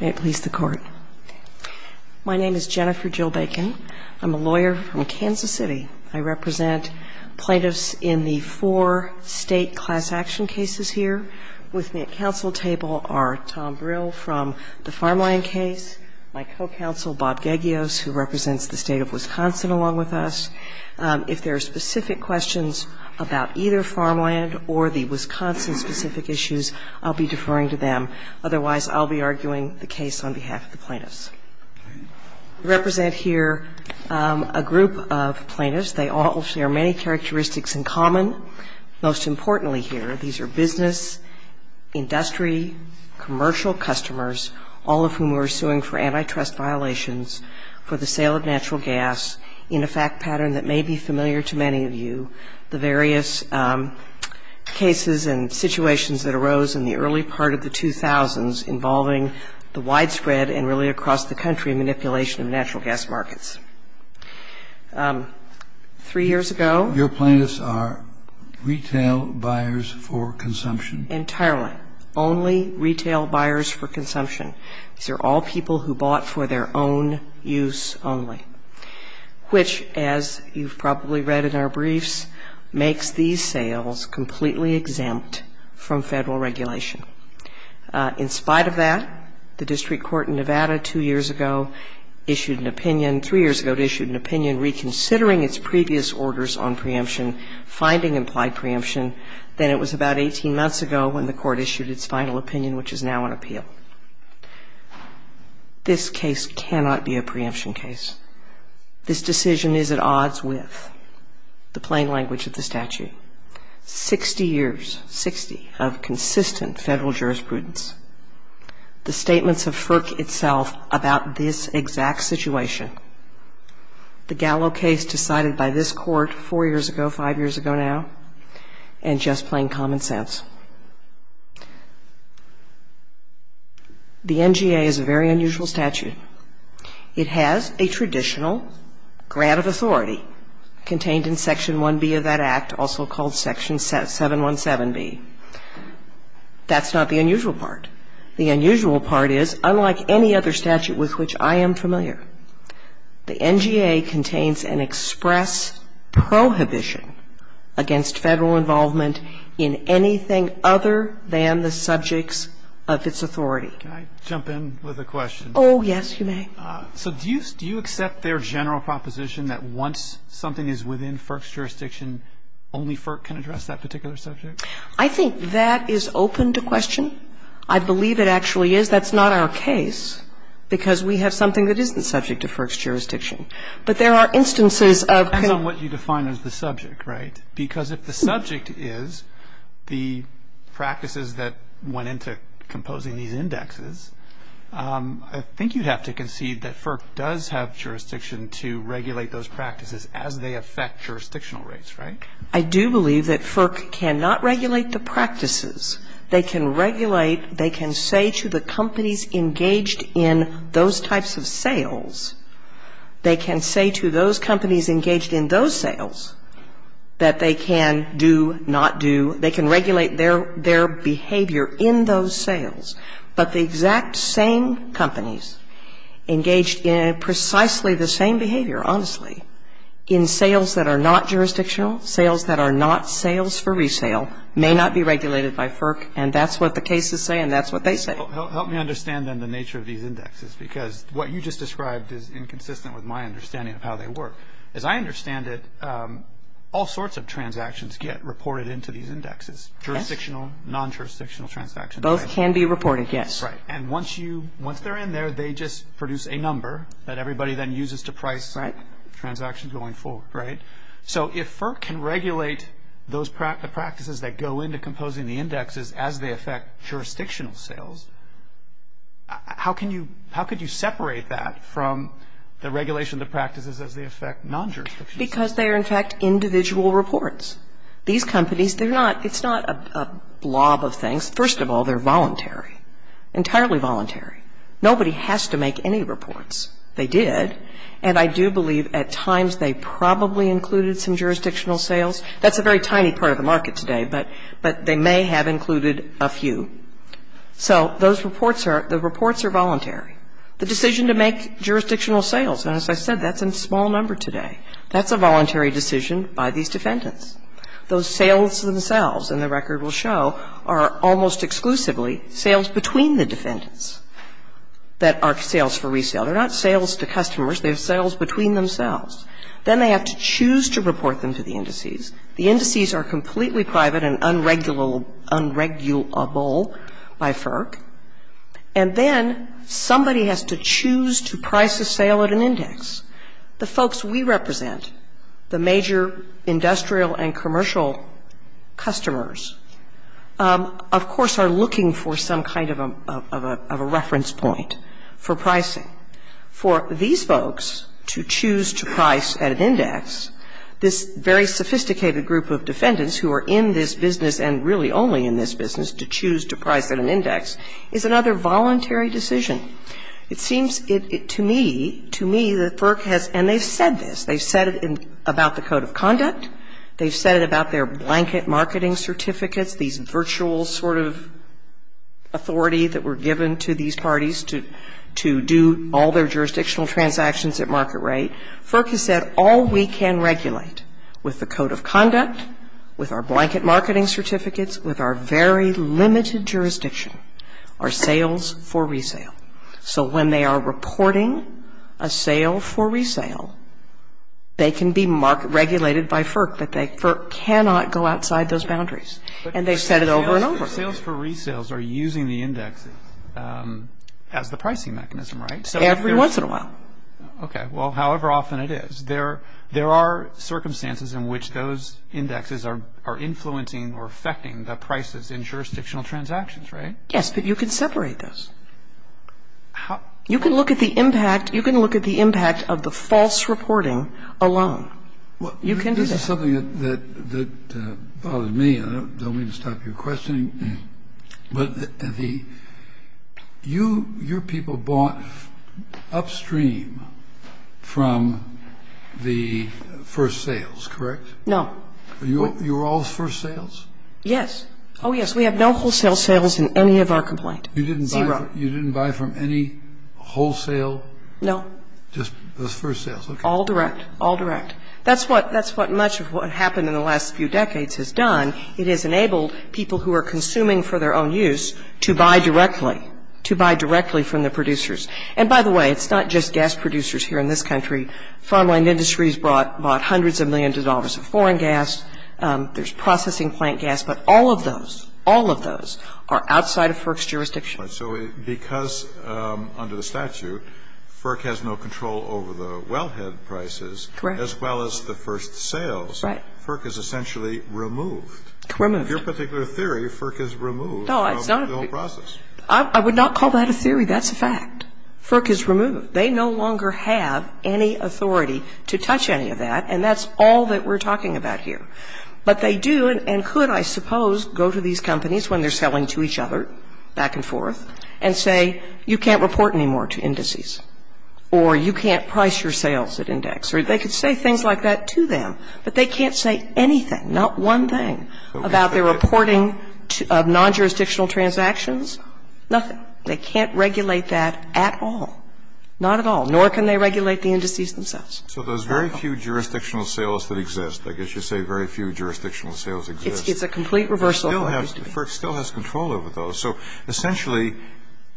May it please the Court. My name is Jennifer Jill Bacon. I'm a lawyer from Kansas City. I represent plaintiffs in the four state class action cases here. With me at counsel table are Tom Brill from the Farmland case, my co-counsel Bob Gagios, who represents the State of Wisconsin along with us. If there are specific questions about either Farmland or the Wisconsin-specific issues, I'll be deferring to them. Otherwise, I'll be arguing the case on behalf of the plaintiffs. I represent here a group of plaintiffs. They all share many characteristics in common. Most importantly here, these are business, industry, commercial customers, all of whom we're suing for antitrust violations, for the sale of natural gas in a fact pattern that may be familiar to many of you, the various cases and situations that arose in the early part of the 2000s involving the widespread and really across the country manipulation of natural gas markets. Three years ago Your plaintiffs are retail buyers for consumption? Entirely. Only retail buyers for consumption. These are all people who bought for their own use only, which, as you've probably read in our briefs, makes these sales completely exempt from Federal regulation. In spite of that, the district court in Nevada two years ago issued an opinion, three years ago it issued an opinion reconsidering its previous orders on preemption, finding implied preemption. Then it was about 18 months ago when the court issued its final opinion, which is now on appeal. This case cannot be a preemption case. This decision is at odds with the plain language of the statute. Sixty years, sixty, of consistent Federal jurisprudence, the statements of FERC itself about this exact situation, the Gallo case decided by this court four years ago, five years ago now, and just plain common sense. The NGA is a very unusual statute. It has a traditional grant of authority contained in Section 1B of that Act, also called Section 717B. That's not the unusual part. The unusual part is, unlike any other statute with which I am familiar, the NGA contains an express prohibition against Federal involvement in anything other than the subjects of its authority. Can I jump in with a question? Oh, yes, you may. So do you accept their general proposition that once something is within FERC's jurisdiction, only FERC can address that particular subject? I think that is open to question. I believe it actually is. That's not our case, because we have something that isn't subject to FERC's jurisdiction. But there are instances of kind of what you define as the subject, right? Because if the subject is the practices that went into composing these indexes, I think you'd have to concede that FERC does have jurisdiction to regulate those practices as they affect jurisdictional rights, right? I do believe that FERC cannot regulate the practices. They can regulate, they can say to the companies engaged in those types of sales, they can say to those companies engaged in those sales that they can do, not do, they can regulate their behavior in those sales. But the exact same companies engaged in precisely the same behavior, honestly, in sales that are not jurisdictional, sales that are not sales for resale, may not be regulated by FERC, and that's what the cases say and that's what they say. Help me understand, then, the nature of these indexes, because what you just described is inconsistent with my understanding of how they work. As I understand it, all sorts of transactions get reported into these indexes, jurisdictional, non-jurisdictional transactions. Both can be reported, yes. Right. And once you, once they're in there, they just produce a number that everybody then uses to price transactions going forward, right? So if FERC can regulate those practices that go into composing the indexes as they affect jurisdictional sales, how can you, how could you separate that from the regulation of the practices as they affect non-jurisdictional sales? Because they are, in fact, individual reports. These companies, they're not, it's not a blob of things. First of all, they're voluntary, entirely voluntary. Nobody has to make any reports. They did, and I do believe at times they probably included some jurisdictional sales. That's a very tiny part of the market today, but they may have included a few. So those reports are, the reports are voluntary. The decision to make jurisdictional sales, and as I said, that's a small number today, that's a voluntary decision by these defendants. Those sales themselves, and the record will show, are almost exclusively sales between the defendants that are sales for resale. They're not sales to customers. They're sales between themselves. Then they have to choose to report them to the indices. The indices are completely private and unregulable by FERC. And then somebody has to choose to price a sale at an index. The folks we represent, the major industrial and commercial customers, of course, are looking for some kind of a reference point for pricing. For these folks to choose to price at an index, this very sophisticated group of defendants who are in this business and really only in this business to choose to price at an index is another voluntary decision. It seems to me, to me, that FERC has, and they've said this, they've said it about the Code of Conduct, they've said it about their blanket marketing certificates, these virtual sort of authority that were given to these parties to do all their jurisdictional transactions at market rate. FERC has said all we can regulate with the Code of Conduct, with our blanket marketing certificates, with our very limited jurisdiction are sales for resale. So when they are reporting a sale for resale, it's regulated by FERC, that FERC cannot go outside those boundaries. And they've said it over and over. Sales for resales are using the indexes as the pricing mechanism, right? Every once in a while. Okay. Well, however often it is. There are circumstances in which those indexes are influencing or affecting the prices in jurisdictional transactions, right? Yes, but you can separate those. You can look at the impact, you can look at the impact of the false reporting alone. You can do that. This is something that bothered me. I don't mean to stop your questioning. But the, you, your people bought upstream from the first sales, correct? No. You were all first sales? Yes. Oh, yes. We have no wholesale sales in any of our complaint. Zero. You didn't buy from any wholesale? No. Just those first sales? All direct. All direct. That's what much of what happened in the last few decades has done. It has enabled people who are consuming for their own use to buy directly, to buy directly from the producers. And by the way, it's not just gas producers here in this country. Farmland Industries bought hundreds of millions of dollars of foreign gas. There's processing plant gas. But all of those, all of those are outside of our jurisdiction. So because under the statute, FERC has no control over the wellhead prices. Correct. As well as the first sales. Right. FERC is essentially removed. Removed. In your particular theory, FERC is removed from the whole process. No, it's not. I would not call that a theory. That's a fact. FERC is removed. They no longer have any authority to touch any of that, and that's all that we're talking about here. But they do, and could, I suppose, go to these companies when they're selling to each other back and forth and say, you can't report anymore to indices, or you can't price your sales at index, or they could say things like that to them, but they can't say anything, not one thing, about their reporting of non-jurisdictional transactions, nothing. They can't regulate that at all. Not at all. Nor can they regulate the indices themselves. So there's very few jurisdictional sales that exist. I guess you say very few jurisdictional sales exist. It's a complete reversal. FERC still has control over those. So, essentially,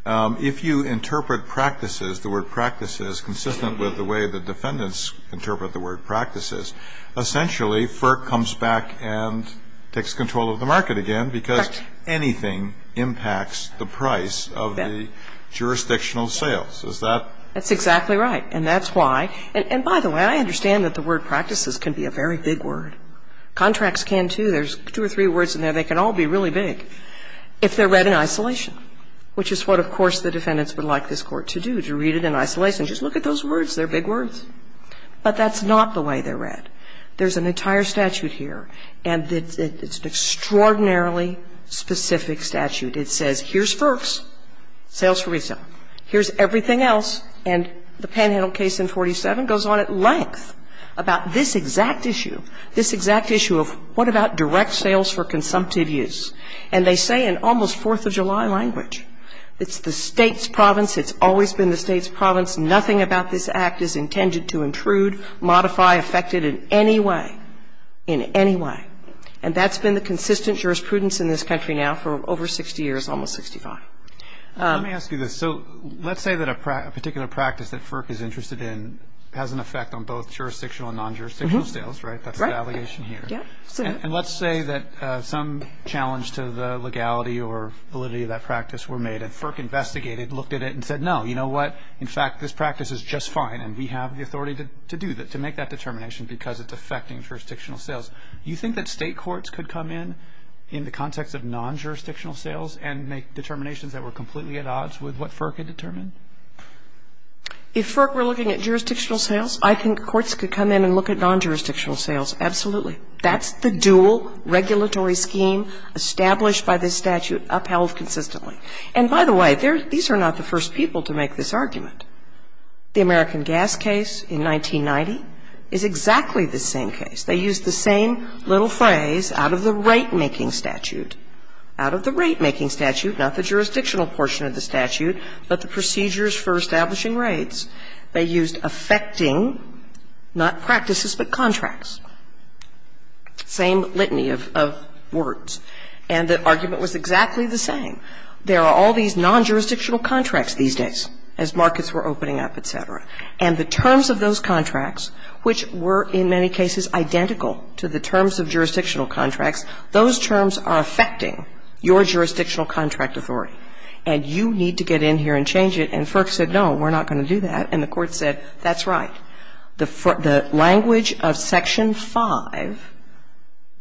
if you interpret practices, the word practices, consistent with the way the defendants interpret the word practices, essentially, FERC comes back and takes control of the market again because anything impacts the price of the jurisdictional sales. Is that? That's exactly right, and that's why. And by the way, I understand that the word practices can be a very big word. Contracts can, too. There's two or three words in there. They can all be really big if they're read in isolation, which is what, of course, the defendants would like this Court to do, to read it in isolation. Just look at those words. They're big words. But that's not the way they're read. There's an entire statute here, and it's an extraordinarily specific statute. It says here's FERC's sales for resale. Here's everything else. And the Panhandle case in 47 goes on at length about this exact issue, this exact issue of what about direct sales for consumptive use. And they say in almost Fourth of July language, it's the State's province, it's always been the State's province, nothing about this Act is intended to intrude, modify, affect it in any way, in any way. And that's been the consistent jurisprudence in this country now for over 60 years, almost 65. Let me ask you this. So let's say that a particular practice that FERC is interested in has an effect on both jurisdictional and non-jurisdictional sales, right? That's the allegation here. And let's say that some challenge to the legality or validity of that practice were made, and FERC investigated, looked at it, and said, no, you know what? In fact, this practice is just fine, and we have the authority to do that, to make that determination because it's affecting jurisdictional sales. You think that State courts could come in in the context of non-jurisdictional sales and make determinations that were completely at odds with what FERC had determined? If FERC were looking at jurisdictional sales, I think courts could come in and look at non-jurisdictional sales. Absolutely. That's the dual regulatory scheme established by this statute upheld consistently. And by the way, these are not the first people to make this argument. The American gas case in 1990 is exactly the same case. They used the same little phrase out of the rate-making statute. Out of the rate-making statute, not the jurisdictional portion of the statute, but the procedures for establishing rates. They used affecting, not practices, but contracts. Same litany of words. And the argument was exactly the same. There are all these non-jurisdictional contracts these days as markets were opening up, et cetera. And the terms of those contracts, which were in many cases identical to the terms of jurisdictional contracts, those terms are affecting your jurisdictional contract authority. And you need to get in here and change it. And FERC said, no, we're not going to do that. And the Court said, that's right. The language of Section 5,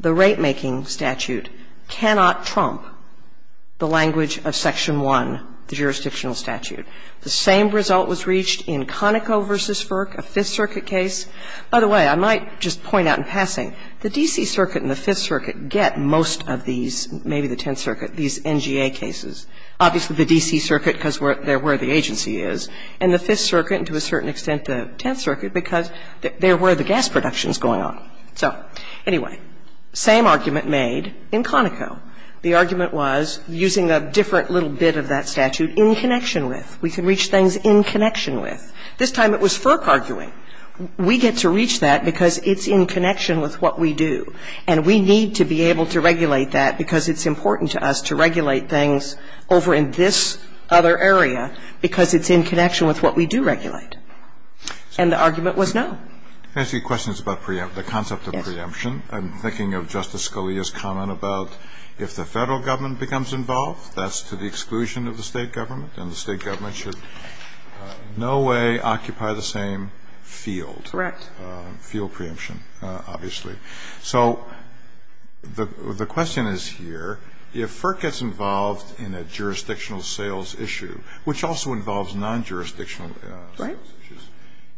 the rate-making statute, cannot trump the language of Section 1, the jurisdictional statute. The same result was reached in Conoco v. FERC, a Fifth Circuit case. By the way, I might just point out in passing, the D.C. Circuit and the Fifth Circuit get most of these, maybe the Tenth Circuit, these NGA cases. Obviously, the D.C. Circuit, because they're where the agency is, and the Fifth Circuit, and to a certain extent the Tenth Circuit, because they're where the gas production is going on. So anyway, same argument made in Conoco. The argument was using a different little bit of that statute in connection with. We can reach things in connection with. This time it was FERC arguing. We get to reach that because it's in connection with what we do. And we need to be able to regulate that because it's important to us to regulate things over in this other area because it's in connection with what we do regulate. And the argument was no. I have a few questions about the concept of preemption. I'm thinking of Justice Scalia's comment about if the Federal government becomes involved, that's to the exclusion of the State government. And the State government should in no way occupy the same field. Correct. Field preemption, obviously. So the question is here, if FERC gets involved in a jurisdictional sales issue, which also involves non-jurisdictional sales issues,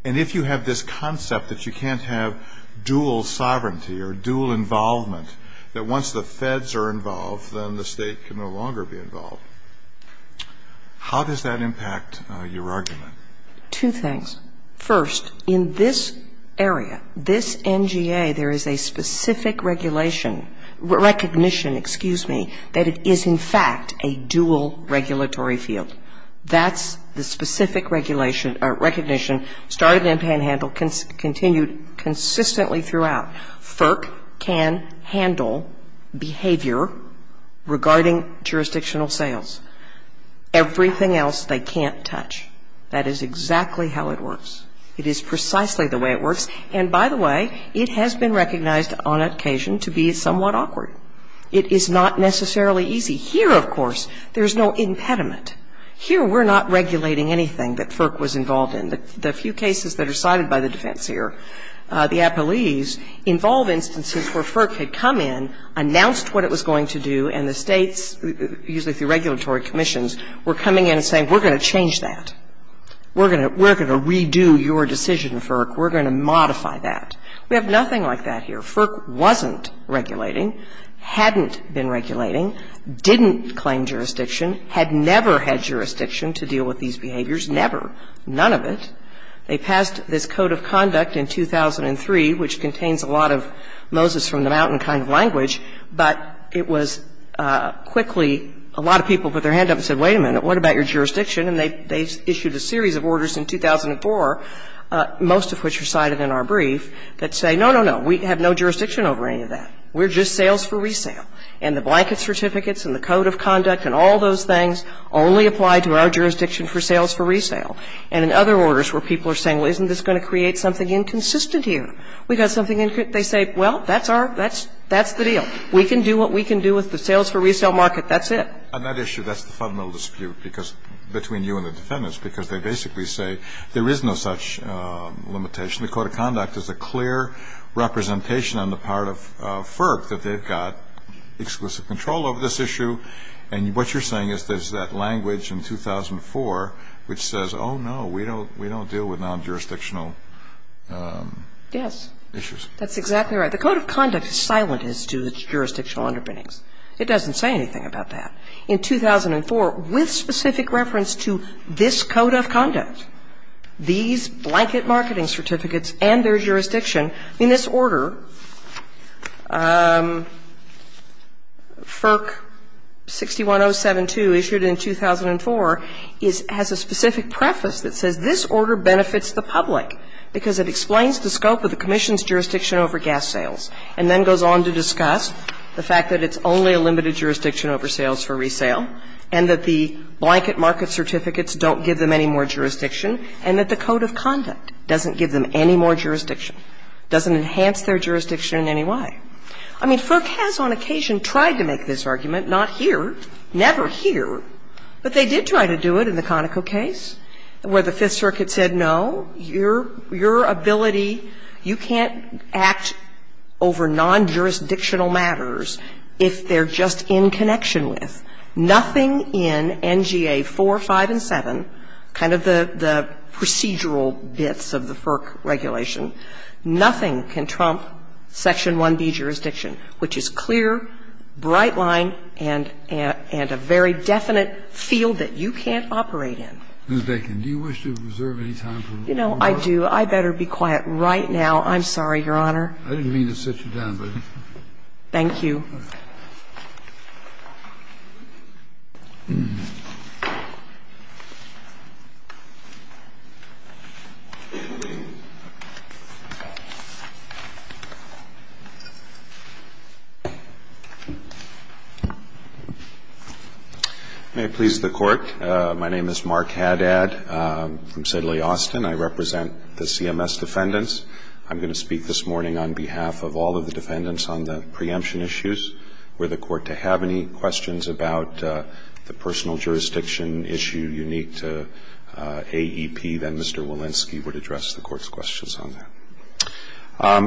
and if you have this concept that you can't have dual sovereignty or dual involvement, that once the Feds are involved, then the State can no longer be involved, how does that impact your argument? Two things. First, in this area, this NGA, there is a specific regulation, recognition, excuse me, that it is in fact a dual regulatory field. That's the specific regulation or recognition, started in panhandle, continued consistently throughout. FERC can handle behavior regarding jurisdictional sales. Everything else they can't touch. That is exactly how it works. It is precisely the way it works. And by the way, it has been recognized on occasion to be somewhat awkward. It is not necessarily easy. Here, of course, there is no impediment. Here, we're not regulating anything that FERC was involved in. The few cases that are cited by the defense here, the appellees, involve instances where FERC had come in, announced what it was going to do, and the States, usually through regulatory commissions, were coming in and saying, we're going to change that, we're going to redo your decision, FERC, we're going to modify that. We have nothing like that here. Now, I'm not saying that FERC wasn't regulating, hadn't been regulating, didn't claim jurisdiction, had never had jurisdiction to deal with these behaviors, never, none of it. They passed this Code of Conduct in 2003, which contains a lot of Moses-from-the- mountain kind of language, but it was quickly, a lot of people put their hand up and said, wait a minute, what about your jurisdiction? And they issued a series of orders in 2004, most of which are cited in our brief, that say, no, no, no, we have no jurisdiction over any of that. We're just sales for resale. And the blanket certificates and the Code of Conduct and all those things only apply to our jurisdiction for sales for resale. And in other orders where people are saying, well, isn't this going to create something inconsistent here? We've got something they say, well, that's our, that's, that's the deal. We can do what we can do with the sales for resale market, that's it. And that issue, that's the fundamental dispute, because, between you and the defendants, because they basically say there is no such limitation. The Code of Conduct is a clear representation on the part of FERC that they've got exclusive control over this issue. And what you're saying is there's that language in 2004 which says, oh, no, we don't, we don't deal with non-jurisdictional issues. Yes, that's exactly right. The Code of Conduct is silent as to its jurisdictional underpinnings. It doesn't say anything about that. In 2004, with specific reference to this Code of Conduct, these blanket marketing certificates and their jurisdiction, in this order, FERC 61072 issued in 2004, has a specific preface that says this order benefits the public because it explains the scope of the Commission's jurisdiction over gas sales, and then goes on to discuss the fact that it's only a limited jurisdiction over sales for resale, and that the blanket market certificates don't give them any more jurisdiction, and that the Code of Conduct doesn't give them any more jurisdiction, doesn't enhance their jurisdiction in any way. I mean, FERC has on occasion tried to make this argument, not here, never here, but they did try to do it in the Conoco case, where the Fifth Circuit said, no, your ability, you can't act over non-jurisdictional matters if they're just in connection with. Nothing in NGA 4, 5, and 7, kind of the procedural bits of the FERC regulation, nothing can trump Section 1B jurisdiction, which is clear, bright line, and a very definite field that you can't operate in. Ms. Bacon, do you wish to reserve any time for one more? You know, I do. I better be quiet right now. I'm sorry, Your Honor. I didn't mean to sit you down, but... Thank you. May it please the Court. My name is Mark Haddad from Sidley, Austin. I represent the CMS defendants. I'm going to speak this morning on behalf of all of the defendants on the preemption issues. Were the Court to have any questions about the personal jurisdiction issue unique to AEP, then Mr. Walensky would address the Court's questions on that.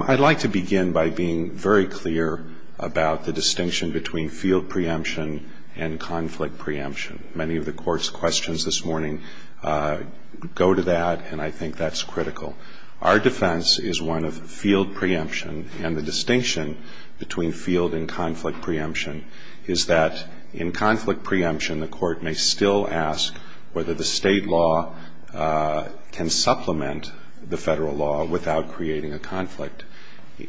I'd like to begin by being very clear about the distinction between field preemption and conflict preemption. Many of the Court's questions this morning go to that, and I think that's critical. Our defense is one of field preemption, and the distinction between field and conflict preemption is that in conflict preemption, the Court may still ask whether the State law can supplement the Federal law without creating a conflict.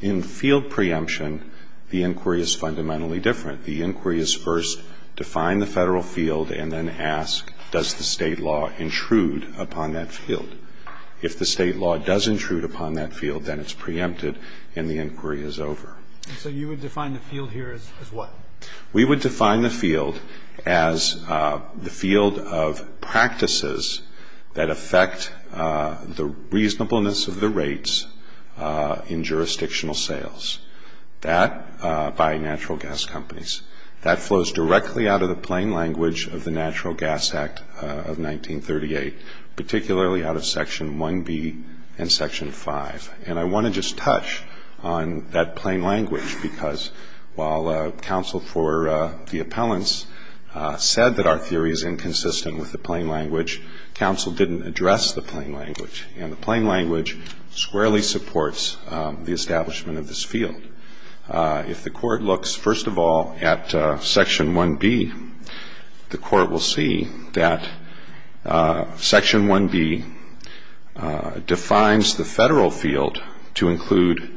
In field preemption, the inquiry is fundamentally different. The inquiry is first define the Federal field and then ask does the State law intrude upon that field. If the State law does intrude upon that field, then it's preempted and the inquiry is over. So you would define the field here as what? We would define the field as the field of practices that affect the reasonableness of the rates in jurisdictional sales. That, by natural gas companies, that flows directly out of the plain language of the Natural Gas Act of 1938, particularly out of Section 1B and Section 5. And I want to just touch on that plain language because while counsel for the appellants said that our theory is inconsistent with the plain language, counsel didn't address the plain language. And the plain language squarely supports the establishment of this field. If the Court looks, first of all, at Section 1B, the Court will see that Section 1B defines the Federal field to include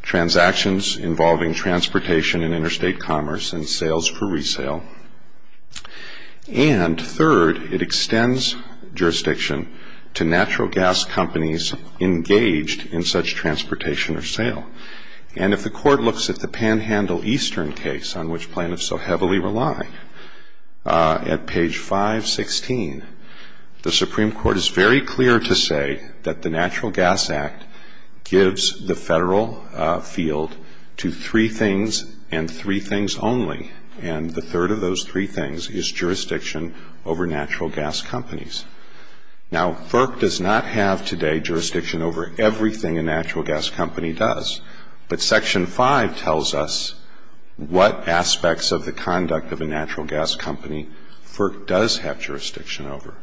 transactions involving transportation and interstate commerce and sales for resale. And, third, it extends jurisdiction to natural gas companies engaged in such transportation or sale. And if the Court looks at the Panhandle Eastern case on which plaintiffs so heavily rely, at page 516, the Supreme Court is very clear to say that the Natural Gas Act gives the Federal field to three things and three things only. And the third of those three things is jurisdiction over natural gas companies. Now, FERC does not have today jurisdiction over everything a natural gas company does. But Section 5 tells us what aspects of the conduct of a natural gas company FERC does have jurisdiction over.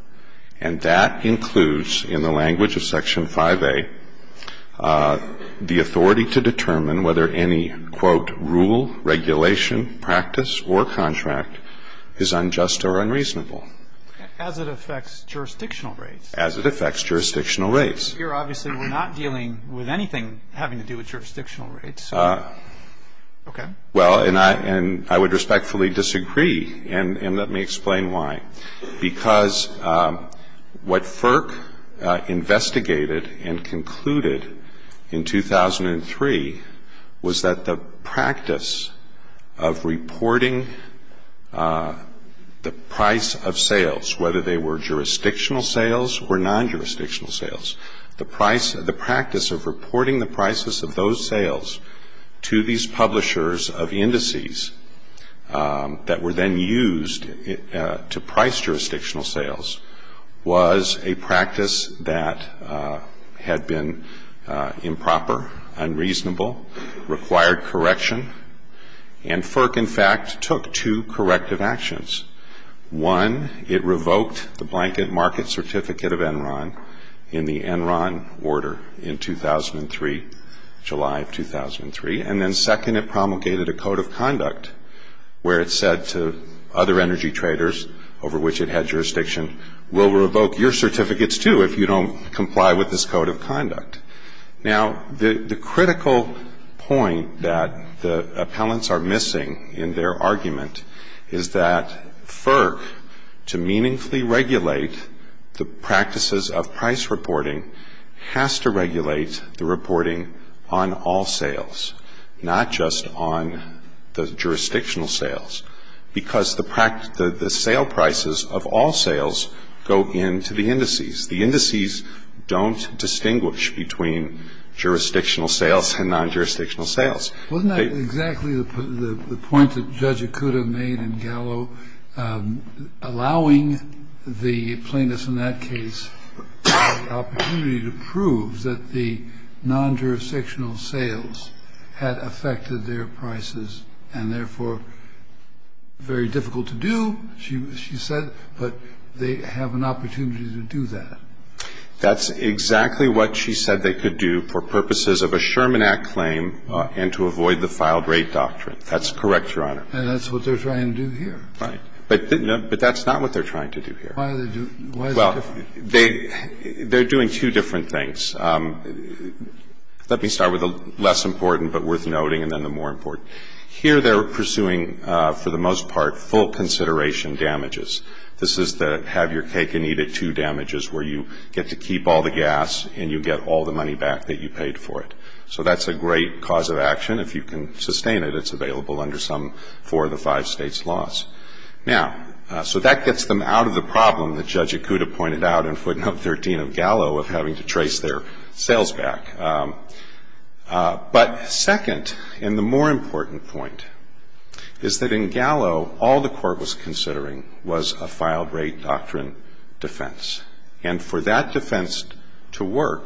And that includes, in the language of Section 5A, the authority to determine whether any, quote, rule, regulation, practice, or contract is unjust or unreasonable. As it affects jurisdictional rates. As it affects jurisdictional rates. Here, obviously, we're not dealing with anything having to do with jurisdictional rates. Okay. Well, and I would respectfully disagree. And let me explain why. Because what FERC investigated and concluded in 2003 was that the practice of reporting the price of sales, whether they were jurisdictional sales or non-jurisdictional sales, the price, the practice of reporting the prices of those sales to these jurisdictional sales was a practice that had been improper, unreasonable, required correction. And FERC, in fact, took two corrective actions. One, it revoked the Blanket Market Certificate of Enron in the Enron Order in 2003, July of 2003. And then second, it promulgated a Code of Conduct where it said to other energy traders, over which it had jurisdiction, we'll revoke your certificates, too, if you don't comply with this Code of Conduct. Now, the critical point that the appellants are missing in their argument is that FERC, to meaningfully regulate the practices of price reporting, has to regulate the reporting on all sales, not just on the jurisdictional sales. Because the sale prices of all sales go into the indices. The indices don't distinguish between jurisdictional sales and non-jurisdictional sales. Wasn't that exactly the point that Judge Ikuda made in Gallo, allowing the plaintiffs in that case the opportunity to prove that the non-jurisdictional sales had affected their prices and, therefore, very difficult to do, she said, but they have an opportunity to do that? That's exactly what she said they could do for purposes of a Sherman Act claim and to avoid the filed-rate doctrine. That's correct, Your Honor. And that's what they're trying to do here. Right. But that's not what they're trying to do here. Why is it different? Well, they're doing two different things. Let me start with the less important but worth noting and then the more important. Here they're pursuing, for the most part, full consideration damages. This is the have your cake and eat it too damages where you get to keep all the gas and you get all the money back that you paid for it. So that's a great cause of action. If you can sustain it, it's available under some four of the five states' laws. Now, so that gets them out of the problem that Judge Ikuda pointed out in footnote 13 of Gallo of having to trace their sales back. But second, and the more important point, is that in Gallo, all the court was considering was a filed-rate doctrine defense. And for that defense to work,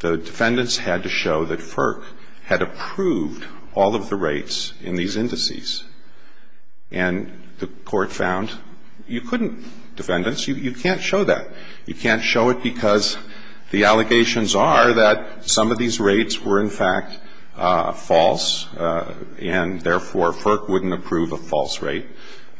the defendants had to show that FERC had approved all of the rates in these indices. And the court found you couldn't, defendants, you can't show that. You can't show it because the allegations are that some of these rates were, in fact, false and therefore FERC wouldn't approve a false rate.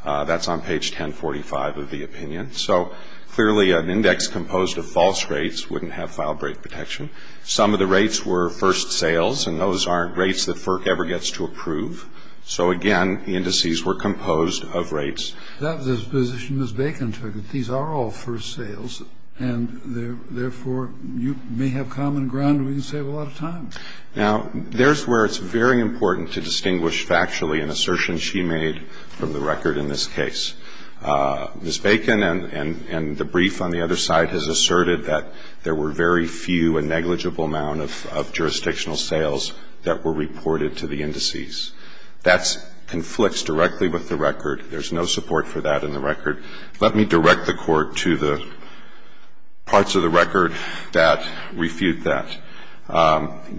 That's on page 1045 of the opinion. So clearly an index composed of false rates wouldn't have filed-rate protection. Some of the rates were first sales and those aren't rates that FERC ever gets to approve. So again, the indices were composed of rates. That was a position Ms. Bacon took, that these are all first sales and therefore you may have common ground and we can save a lot of time. Now, there's where it's very important to distinguish factually an assertion she made from the record in this case. Ms. Bacon and the brief on the other side has asserted that there were very few and negligible amount of jurisdictional sales that were reported to the indices. That conflicts directly with the record. There's no support for that in the record. Let me direct the court to the parts of the record that refute that.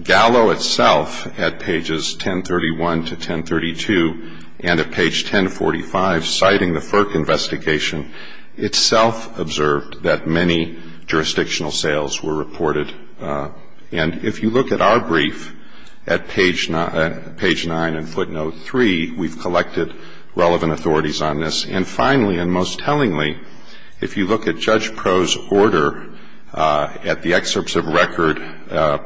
Gallo itself, at pages 1031 to 1032, and at page 1045, citing the FERC investigation, itself observed that many jurisdictional sales were reported. And if you look at our brief at page 9 and footnote 3, we've collected relevant authorities on this. And finally, and most tellingly, if you look at Judge Proh's order at the excerpts of record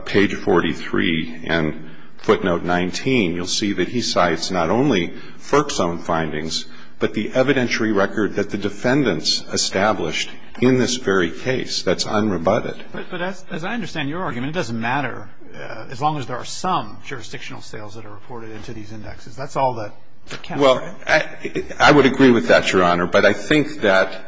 page 43 and footnote 19, you'll see that he cites not only FERC's own findings, but the evidentiary record that the defendants established in this very case. That's unrebutted. But as I understand your argument, it doesn't matter as long as there are some jurisdictional sales that are reported into these indexes. That's all that counts, right? Well, I would agree with that, Your Honor. But I think that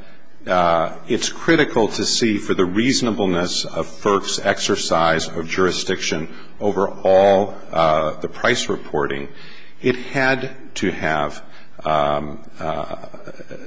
it's critical to see for the reasonableness of FERC's exercise of jurisdiction over all the price reporting, it had to have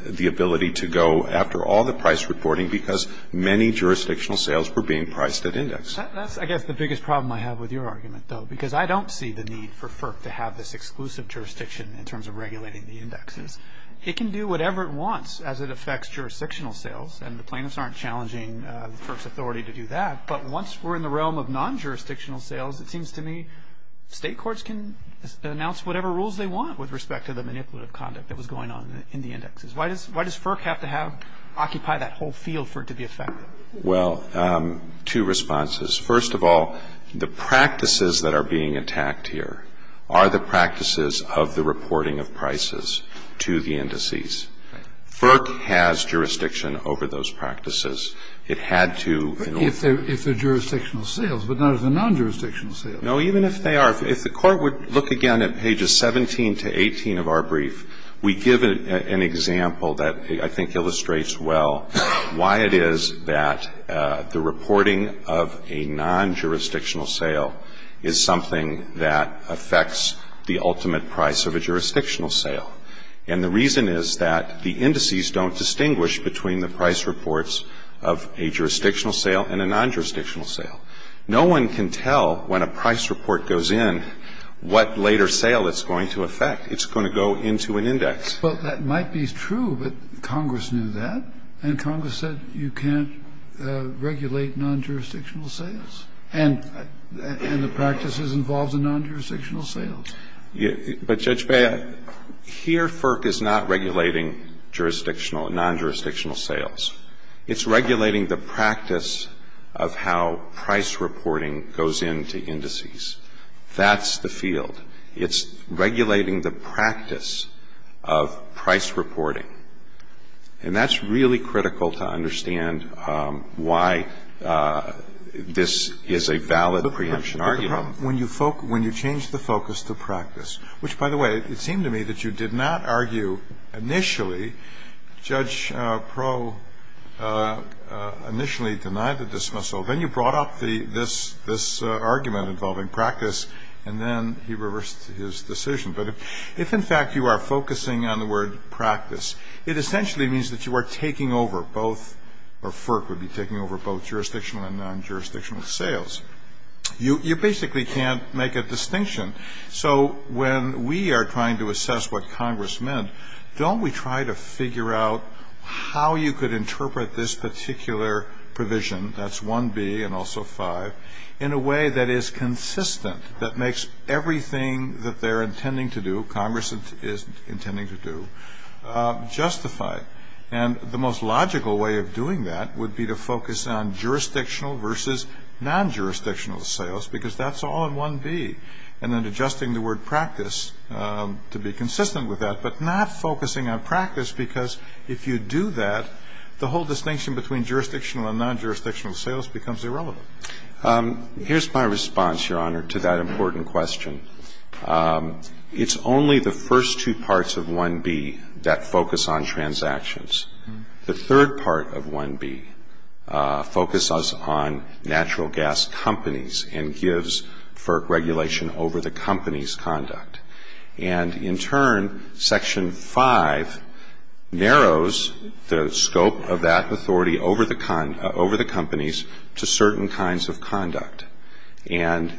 the ability to go after all the price reporting because many jurisdictional sales were being priced at index. That's, I guess, the biggest problem I have with your argument, though, because I don't see the need for FERC to have this exclusive jurisdiction in terms of regulating the indexes. It can do whatever it wants as it affects jurisdictional sales, and the plaintiffs aren't challenging FERC's authority to do that. But once we're in the realm of non-jurisdictional sales, it seems to me state courts can announce whatever rules they want with respect to the manipulative conduct that was going on in the indexes. Why does FERC have to have to occupy that whole field for it to be effective? Well, two responses. First of all, the practices that are being attacked here are the practices of the reporting of prices to the indices. FERC has jurisdiction over those practices. It had to. If they're jurisdictional sales, but not as a non-jurisdictional sales. No, even if they are, if the Court would look again at pages 17 to 18 of our brief, we give an example that I think illustrates well why it is that the reporting of a non-jurisdictional sale is something that affects the ultimate price of a jurisdictional sale. And the reason is that the indices don't distinguish between the price reports of a jurisdictional sale and a non-jurisdictional sale. No one can tell when a price report goes in what later sale it's going to affect. It's going to go into an index. Well, that might be true, but Congress knew that, and Congress said you can't regulate non-jurisdictional sales. And the practices involved in non-jurisdictional sales. But, Judge Bea, here FERC is not regulating jurisdictional and non-jurisdictional sales. It's regulating the practice of how price reporting goes into indices. That's the field. It's regulating the practice of price reporting. And that's really critical to understand why this is a valid preemption argument. But the problem, when you change the focus to practice, which, by the way, it seemed to me that you did not argue initially, Judge Proh initially denied the dismissal. Then you brought up this argument involving practice, and then he reversed his decision. But if, in fact, you are focusing on the word practice, it essentially means that you are taking over both, or FERC would be taking over both jurisdictional and non-jurisdictional sales. You basically can't make a distinction. So when we are trying to assess what Congress meant, don't we try to figure out how you could interpret this particular provision? That's 1B, and also 5, in a way that is consistent, that makes everything that they are intending to do, Congress is intending to do, justify. And the most logical way of doing that would be to focus on jurisdictional versus non-jurisdictional sales, because that's all in 1B. And then adjusting the word practice to be consistent with that, but not focusing on practice, because if you do that, the whole distinction between jurisdictional and non-jurisdictional sales becomes irrelevant. Here's my response, Your Honor, to that important question. It's only the first two parts of 1B that focus on transactions. The third part of 1B focuses on natural gas companies and gives FERC regulation over the company's conduct. And in turn, Section 5 narrows the scope of that authority over the company's to certain kinds of conduct, and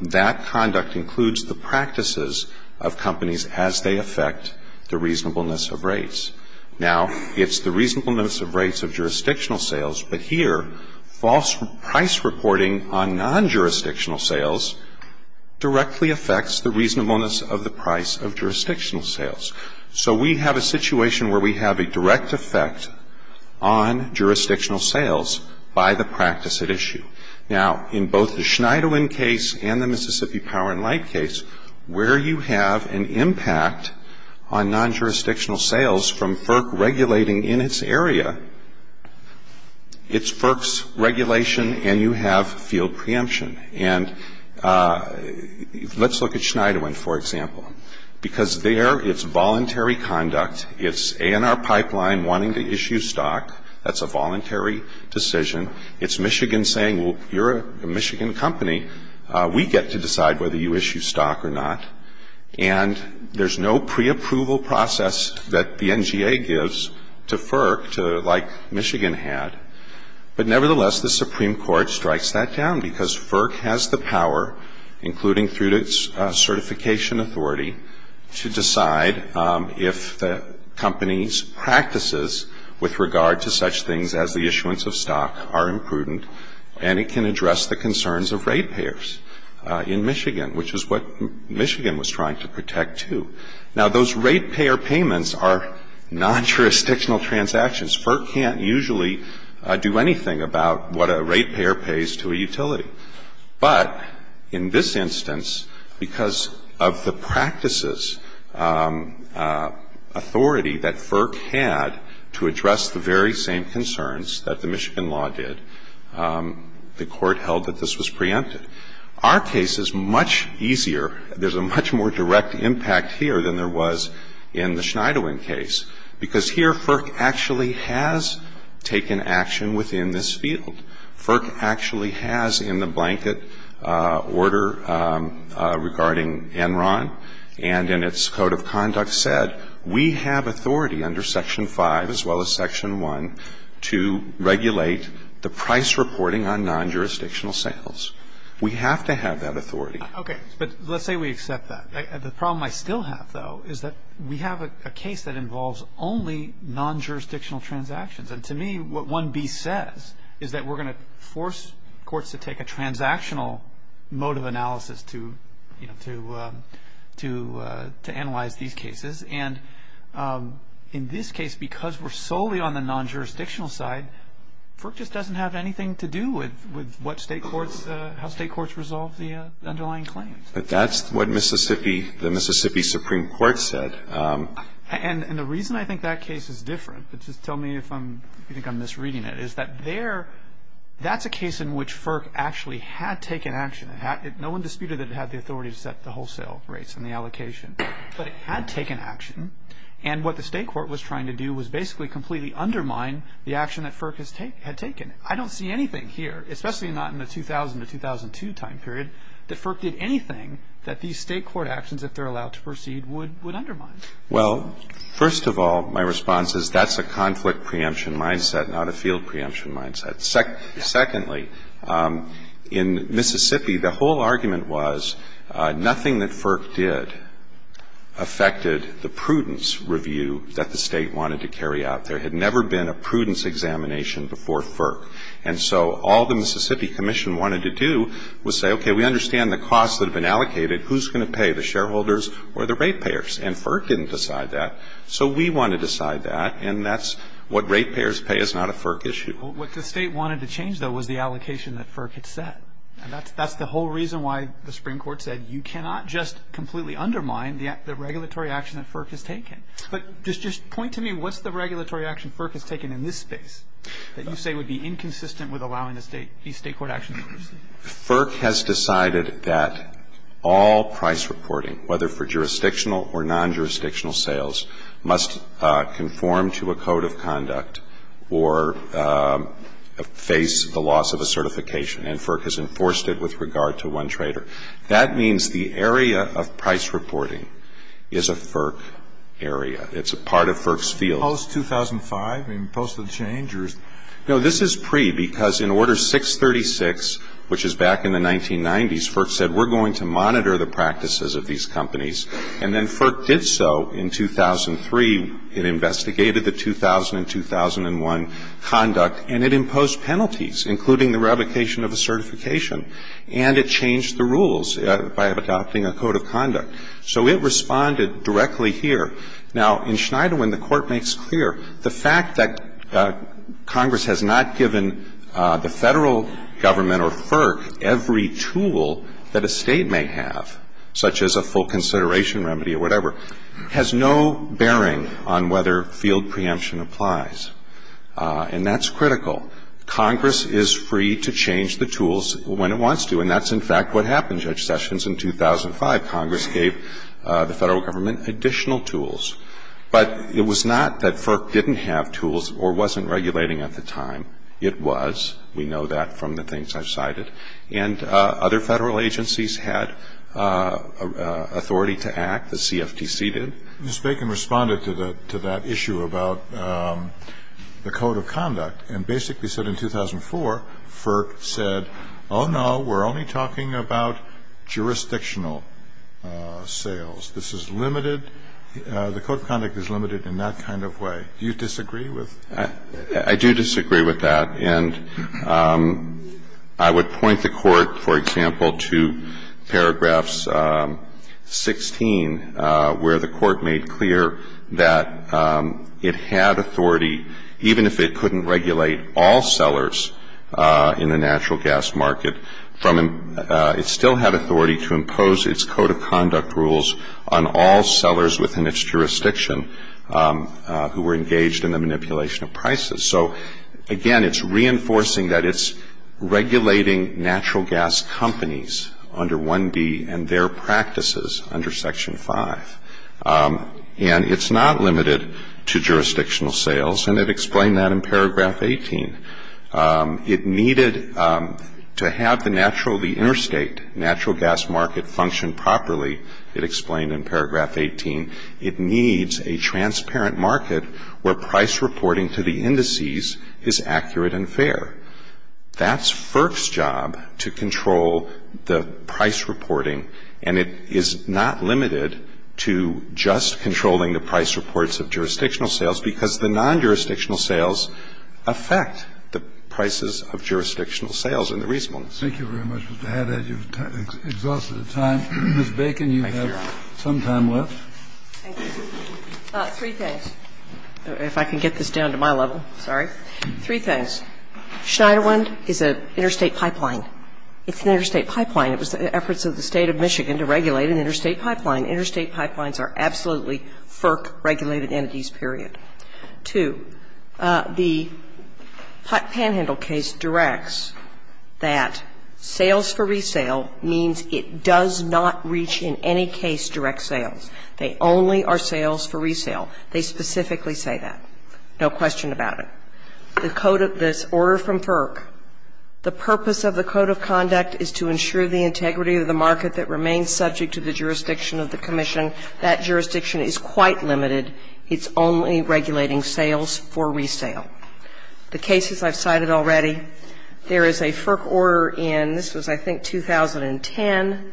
that conduct includes the practices of companies as they affect the reasonableness of rates. Now, it's the reasonableness of rates of jurisdictional sales, but here, false price reporting on non-jurisdictional sales directly affects the reasonableness of the price of jurisdictional sales. So we have a situation where we have a direct effect on jurisdictional sales by the practice at issue. Now, in both the Schneiderwin case and the Mississippi Power and Light case, where you have an impact on non-jurisdictional sales from FERC regulating in its area, it's FERC's regulation and you have field preemption. And let's look at Schneiderwin, for example. Because there, it's voluntary conduct. It's A&R Pipeline wanting to issue stock. That's a voluntary decision. It's Michigan saying, well, you're a Michigan company. We get to decide whether you issue stock or not. And there's no preapproval process that the NGA gives to FERC, like Michigan had. But nevertheless, the Supreme Court strikes that down because FERC has the power, including through its certification authority, to decide if the company's practices with regard to such things as the issuance of stock are imprudent, and it can address the concerns of ratepayers in Michigan, which is what Michigan was trying to protect, too. Now, those ratepayer payments are non-jurisdictional transactions. FERC can't usually do anything about what a ratepayer pays to a utility. But in this instance, because of the practices authority that FERC had to address the very same concerns that the Michigan law did, the Court held that this was preempted. Our case is much easier. There's a much more direct impact here than there was in the Schneiderwin case because here FERC actually has taken action within this field. FERC actually has in the blanket order regarding Enron and in its Code of Conduct said, we have authority under Section 5 as well as Section 1 to regulate the price reporting on non-jurisdictional sales. We have to have that authority. Okay. But let's say we accept that. The problem I still have, though, is that we have a case that involves only non-jurisdictional transactions. And to me, what 1B says is that we're going to force courts to take a transactional mode of analysis to analyze these cases. And in this case, because we're solely on the non-jurisdictional side, FERC just doesn't have anything to do with how state courts resolve the underlying claims. But that's what the Mississippi Supreme Court said. And the reason I think that case is different, but just tell me if you think I'm misreading it, is that that's a case in which FERC actually had taken action. No one disputed that it had the authority to set the wholesale rates and the allocation. But it had taken action. And what the state court was trying to do was basically completely undermine the action that FERC had taken. I don't see anything here, especially not in the 2000 to 2002 time period, that FERC did anything that these state court actions, if they're allowed to proceed, would undermine. Well, first of all, my response is that's a conflict preemption mindset, not a field preemption mindset. Secondly, in Mississippi, the whole argument was nothing that FERC did affected the prudence review that the state wanted to carry out. There had never been a prudence examination before FERC. And so all the Mississippi Commission wanted to do was say, okay, we understand the costs that have been allocated. Who's going to pay, the shareholders or the rate payers? And FERC didn't decide that. So we want to decide that. And that's what rate payers pay is not a FERC issue. What the state wanted to change, though, was the allocation that FERC had set. And that's the whole reason why the Supreme Court said you cannot just completely undermine the regulatory action that FERC has taken. But just point to me, what's the regulatory action FERC has taken in this space that you say would be inconsistent with allowing these State court actions to proceed? FERC has decided that all price reporting, whether for jurisdictional or non-jurisdictional sales, must conform to a code of conduct or face the loss of a certification. And FERC has enforced it with regard to one trader. That means the area of price reporting is a FERC area. It's a part of FERC's field. Post-2005? I mean, post the change? No, this is pre because in Order 636, which is back in the 1990s, FERC said we're going to monitor the practices of these companies. And then FERC did so in 2003. It investigated the 2000 and 2001 conduct. And it imposed penalties, including the revocation of a certification. And it changed the rules by adopting a code of conduct. So it responded directly here. Now, in Schneiderwin, the Court makes clear the fact that Congress has not given the Federal Government or FERC every tool that a State may have, such as a full consideration remedy or whatever, has no bearing on whether field preemption applies. And that's critical. Congress is free to change the tools when it wants to. And that's, in fact, what happened, Judge Sessions. In 2005, Congress gave the Federal Government additional tools. But it was not that FERC didn't have tools or wasn't regulating at the time. It was. We know that from the things I've cited. And other Federal agencies had authority to act. The CFTC did. Ms. Bacon responded to that issue about the code of conduct and basically said in 2004, FERC said, oh, no, we're only talking about jurisdictional sales. This is limited. The code of conduct is limited in that kind of way. Do you disagree with that? I do disagree with that. And I would point the Court, for example, to paragraphs 16, where the Court made clear that it had authority, even if it couldn't regulate all sellers in the natural gas market, it still had authority to impose its code of conduct rules on all sellers within its jurisdiction who were engaged in the manipulation of prices. So, again, it's reinforcing that it's regulating natural gas companies under 1B and their practices under Section 5. And it's not limited to jurisdictional sales. And it explained that in paragraph 18. It needed to have the natural, the interstate natural gas market function properly, it explained in paragraph 18. It needs a transparent market where price reporting to the indices is accurate and fair. That's FERC's job to control the price reporting, and it is not limited to just controlling the price reports of jurisdictional sales, because the non-jurisdictional sales affect the prices of jurisdictional sales and the reasonableness. Thank you very much, Mr. Haddad. You've exhausted your time. Ms. Bacon, you have some time left. Thank you. Three things. If I can get this down to my level. Sorry. Three things. Schneiderwind is an interstate pipeline. It's an interstate pipeline. It was the efforts of the State of Michigan to regulate an interstate pipeline. Interstate pipelines are absolutely FERC-regulated entities, period. Two, the Panhandle case directs that sales for resale means it does not reach in any case direct sales. They only are sales for resale. They specifically say that. No question about it. The order from FERC, the purpose of the code of conduct is to ensure the integrity of the market that remains subject to the jurisdiction of the commission. That jurisdiction is quite limited. It's only regulating sales for resale. The cases I've cited already, there is a FERC order in, this was I think 2010,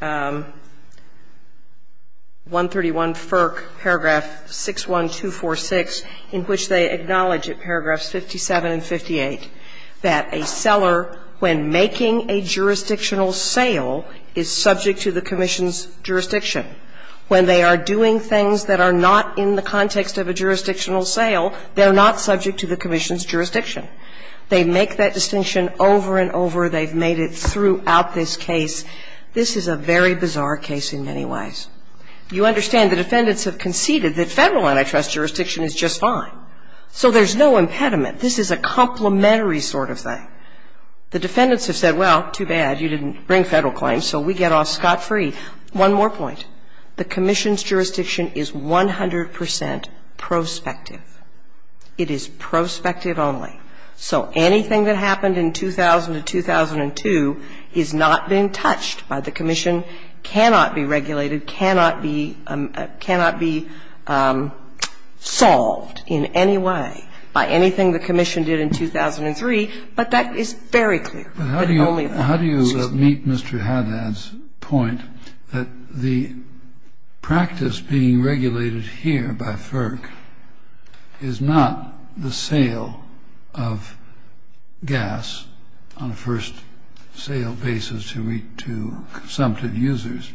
131 paragraph 61246 in which they acknowledge at paragraphs 57 and 58 that a seller when making a jurisdictional sale is subject to the commission's jurisdiction. When they are doing things that are not in the context of a jurisdictional sale, they're not subject to the commission's jurisdiction. They make that distinction over and over. They've made it throughout this case. This is a very bizarre case in many ways. You understand the defendants have conceded that federal antitrust jurisdiction is just fine. So there's no impediment. This is a complementary sort of thing. The defendants have said, well, too bad. You didn't bring federal claims, so we get off scot-free. One more point. The commission's jurisdiction is 100 percent prospective. It is prospective only. So anything that happened in 2000 and 2002 is not being touched by the commission, cannot be regulated, cannot be solved in any way by anything the commission did in 2003, but that is very clear. Kennedy. How do you meet Mr. Haddad's point that the practice being regulated here by FERC is not the sale of gas on a first sale basis to consumptive users,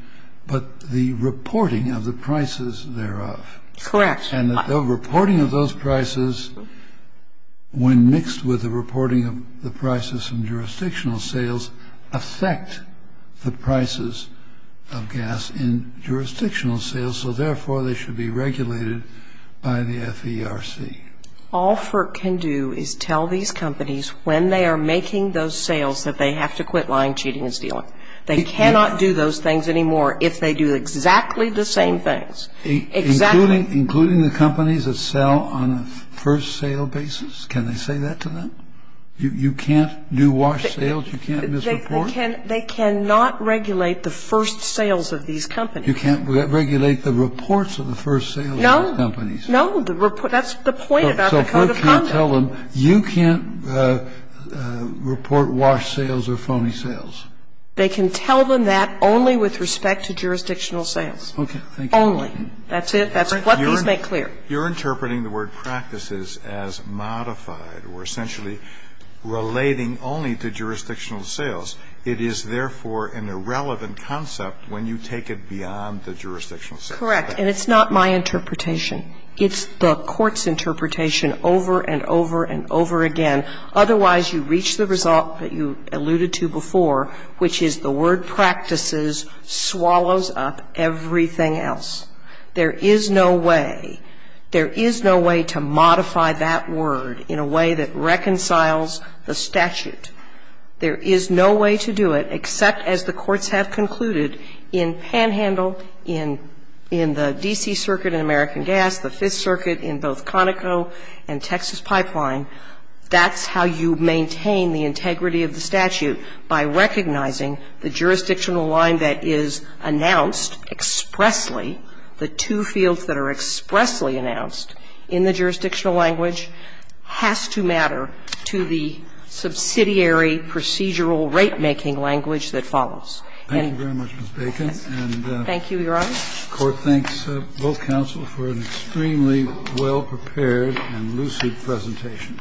but the reporting of the prices thereof? Correct. And the reporting of those prices, when mixed with the reporting of the prices from jurisdictional sales, affect the prices of gas in jurisdictional sales, so therefore they should be regulated by the FERC? All FERC can do is tell these companies, when they are making those sales, that they have to quit lying, cheating and stealing. They cannot do those things anymore if they do exactly the same things. Exactly. Including the companies that sell on a first sale basis? Can they say that to them? You can't do wash sales? You can't misreport? They cannot regulate the first sales of these companies. You can't regulate the reports of the first sales of these companies? No. That's the point about the Code of Conduct. So FERC can't tell them, you can't report wash sales or phony sales? They can tell them that only with respect to jurisdictional sales. Okay. Thank you. Only. That's it. That's what these make clear. You're interpreting the word practices as modified or essentially relating only to jurisdictional sales. It is therefore an irrelevant concept when you take it beyond the jurisdictional sales. Correct. And it's not my interpretation. It's the court's interpretation over and over and over again. Otherwise, you reach the result that you alluded to before, which is the word practices swallows up everything else. There is no way, there is no way to modify that word in a way that reconciles the statute. There is no way to do it except as the courts have concluded in Panhandle, in the D.C. Circuit in American Gas, the Fifth Circuit in both Conoco and Texas Pipeline, that's how you maintain the integrity of the statute, by recognizing the jurisdictional line that is announced expressly, the two fields that are expressly announced in the jurisdictional language has to matter to the subsidiary procedural rate-making language that follows. Thank you very much, Ms. Bacon. Thank you, Your Honor. The court thanks both counsel for an extremely well-prepared and lucid presentation.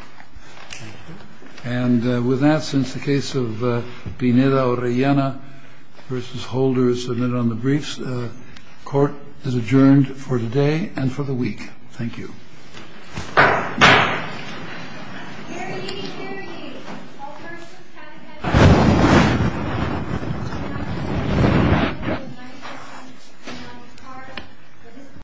And with that, since the case of Pineda-Orellana v. Holder is submitted on the briefs, the court is adjourned for today and for the week. Thank you. Thank you.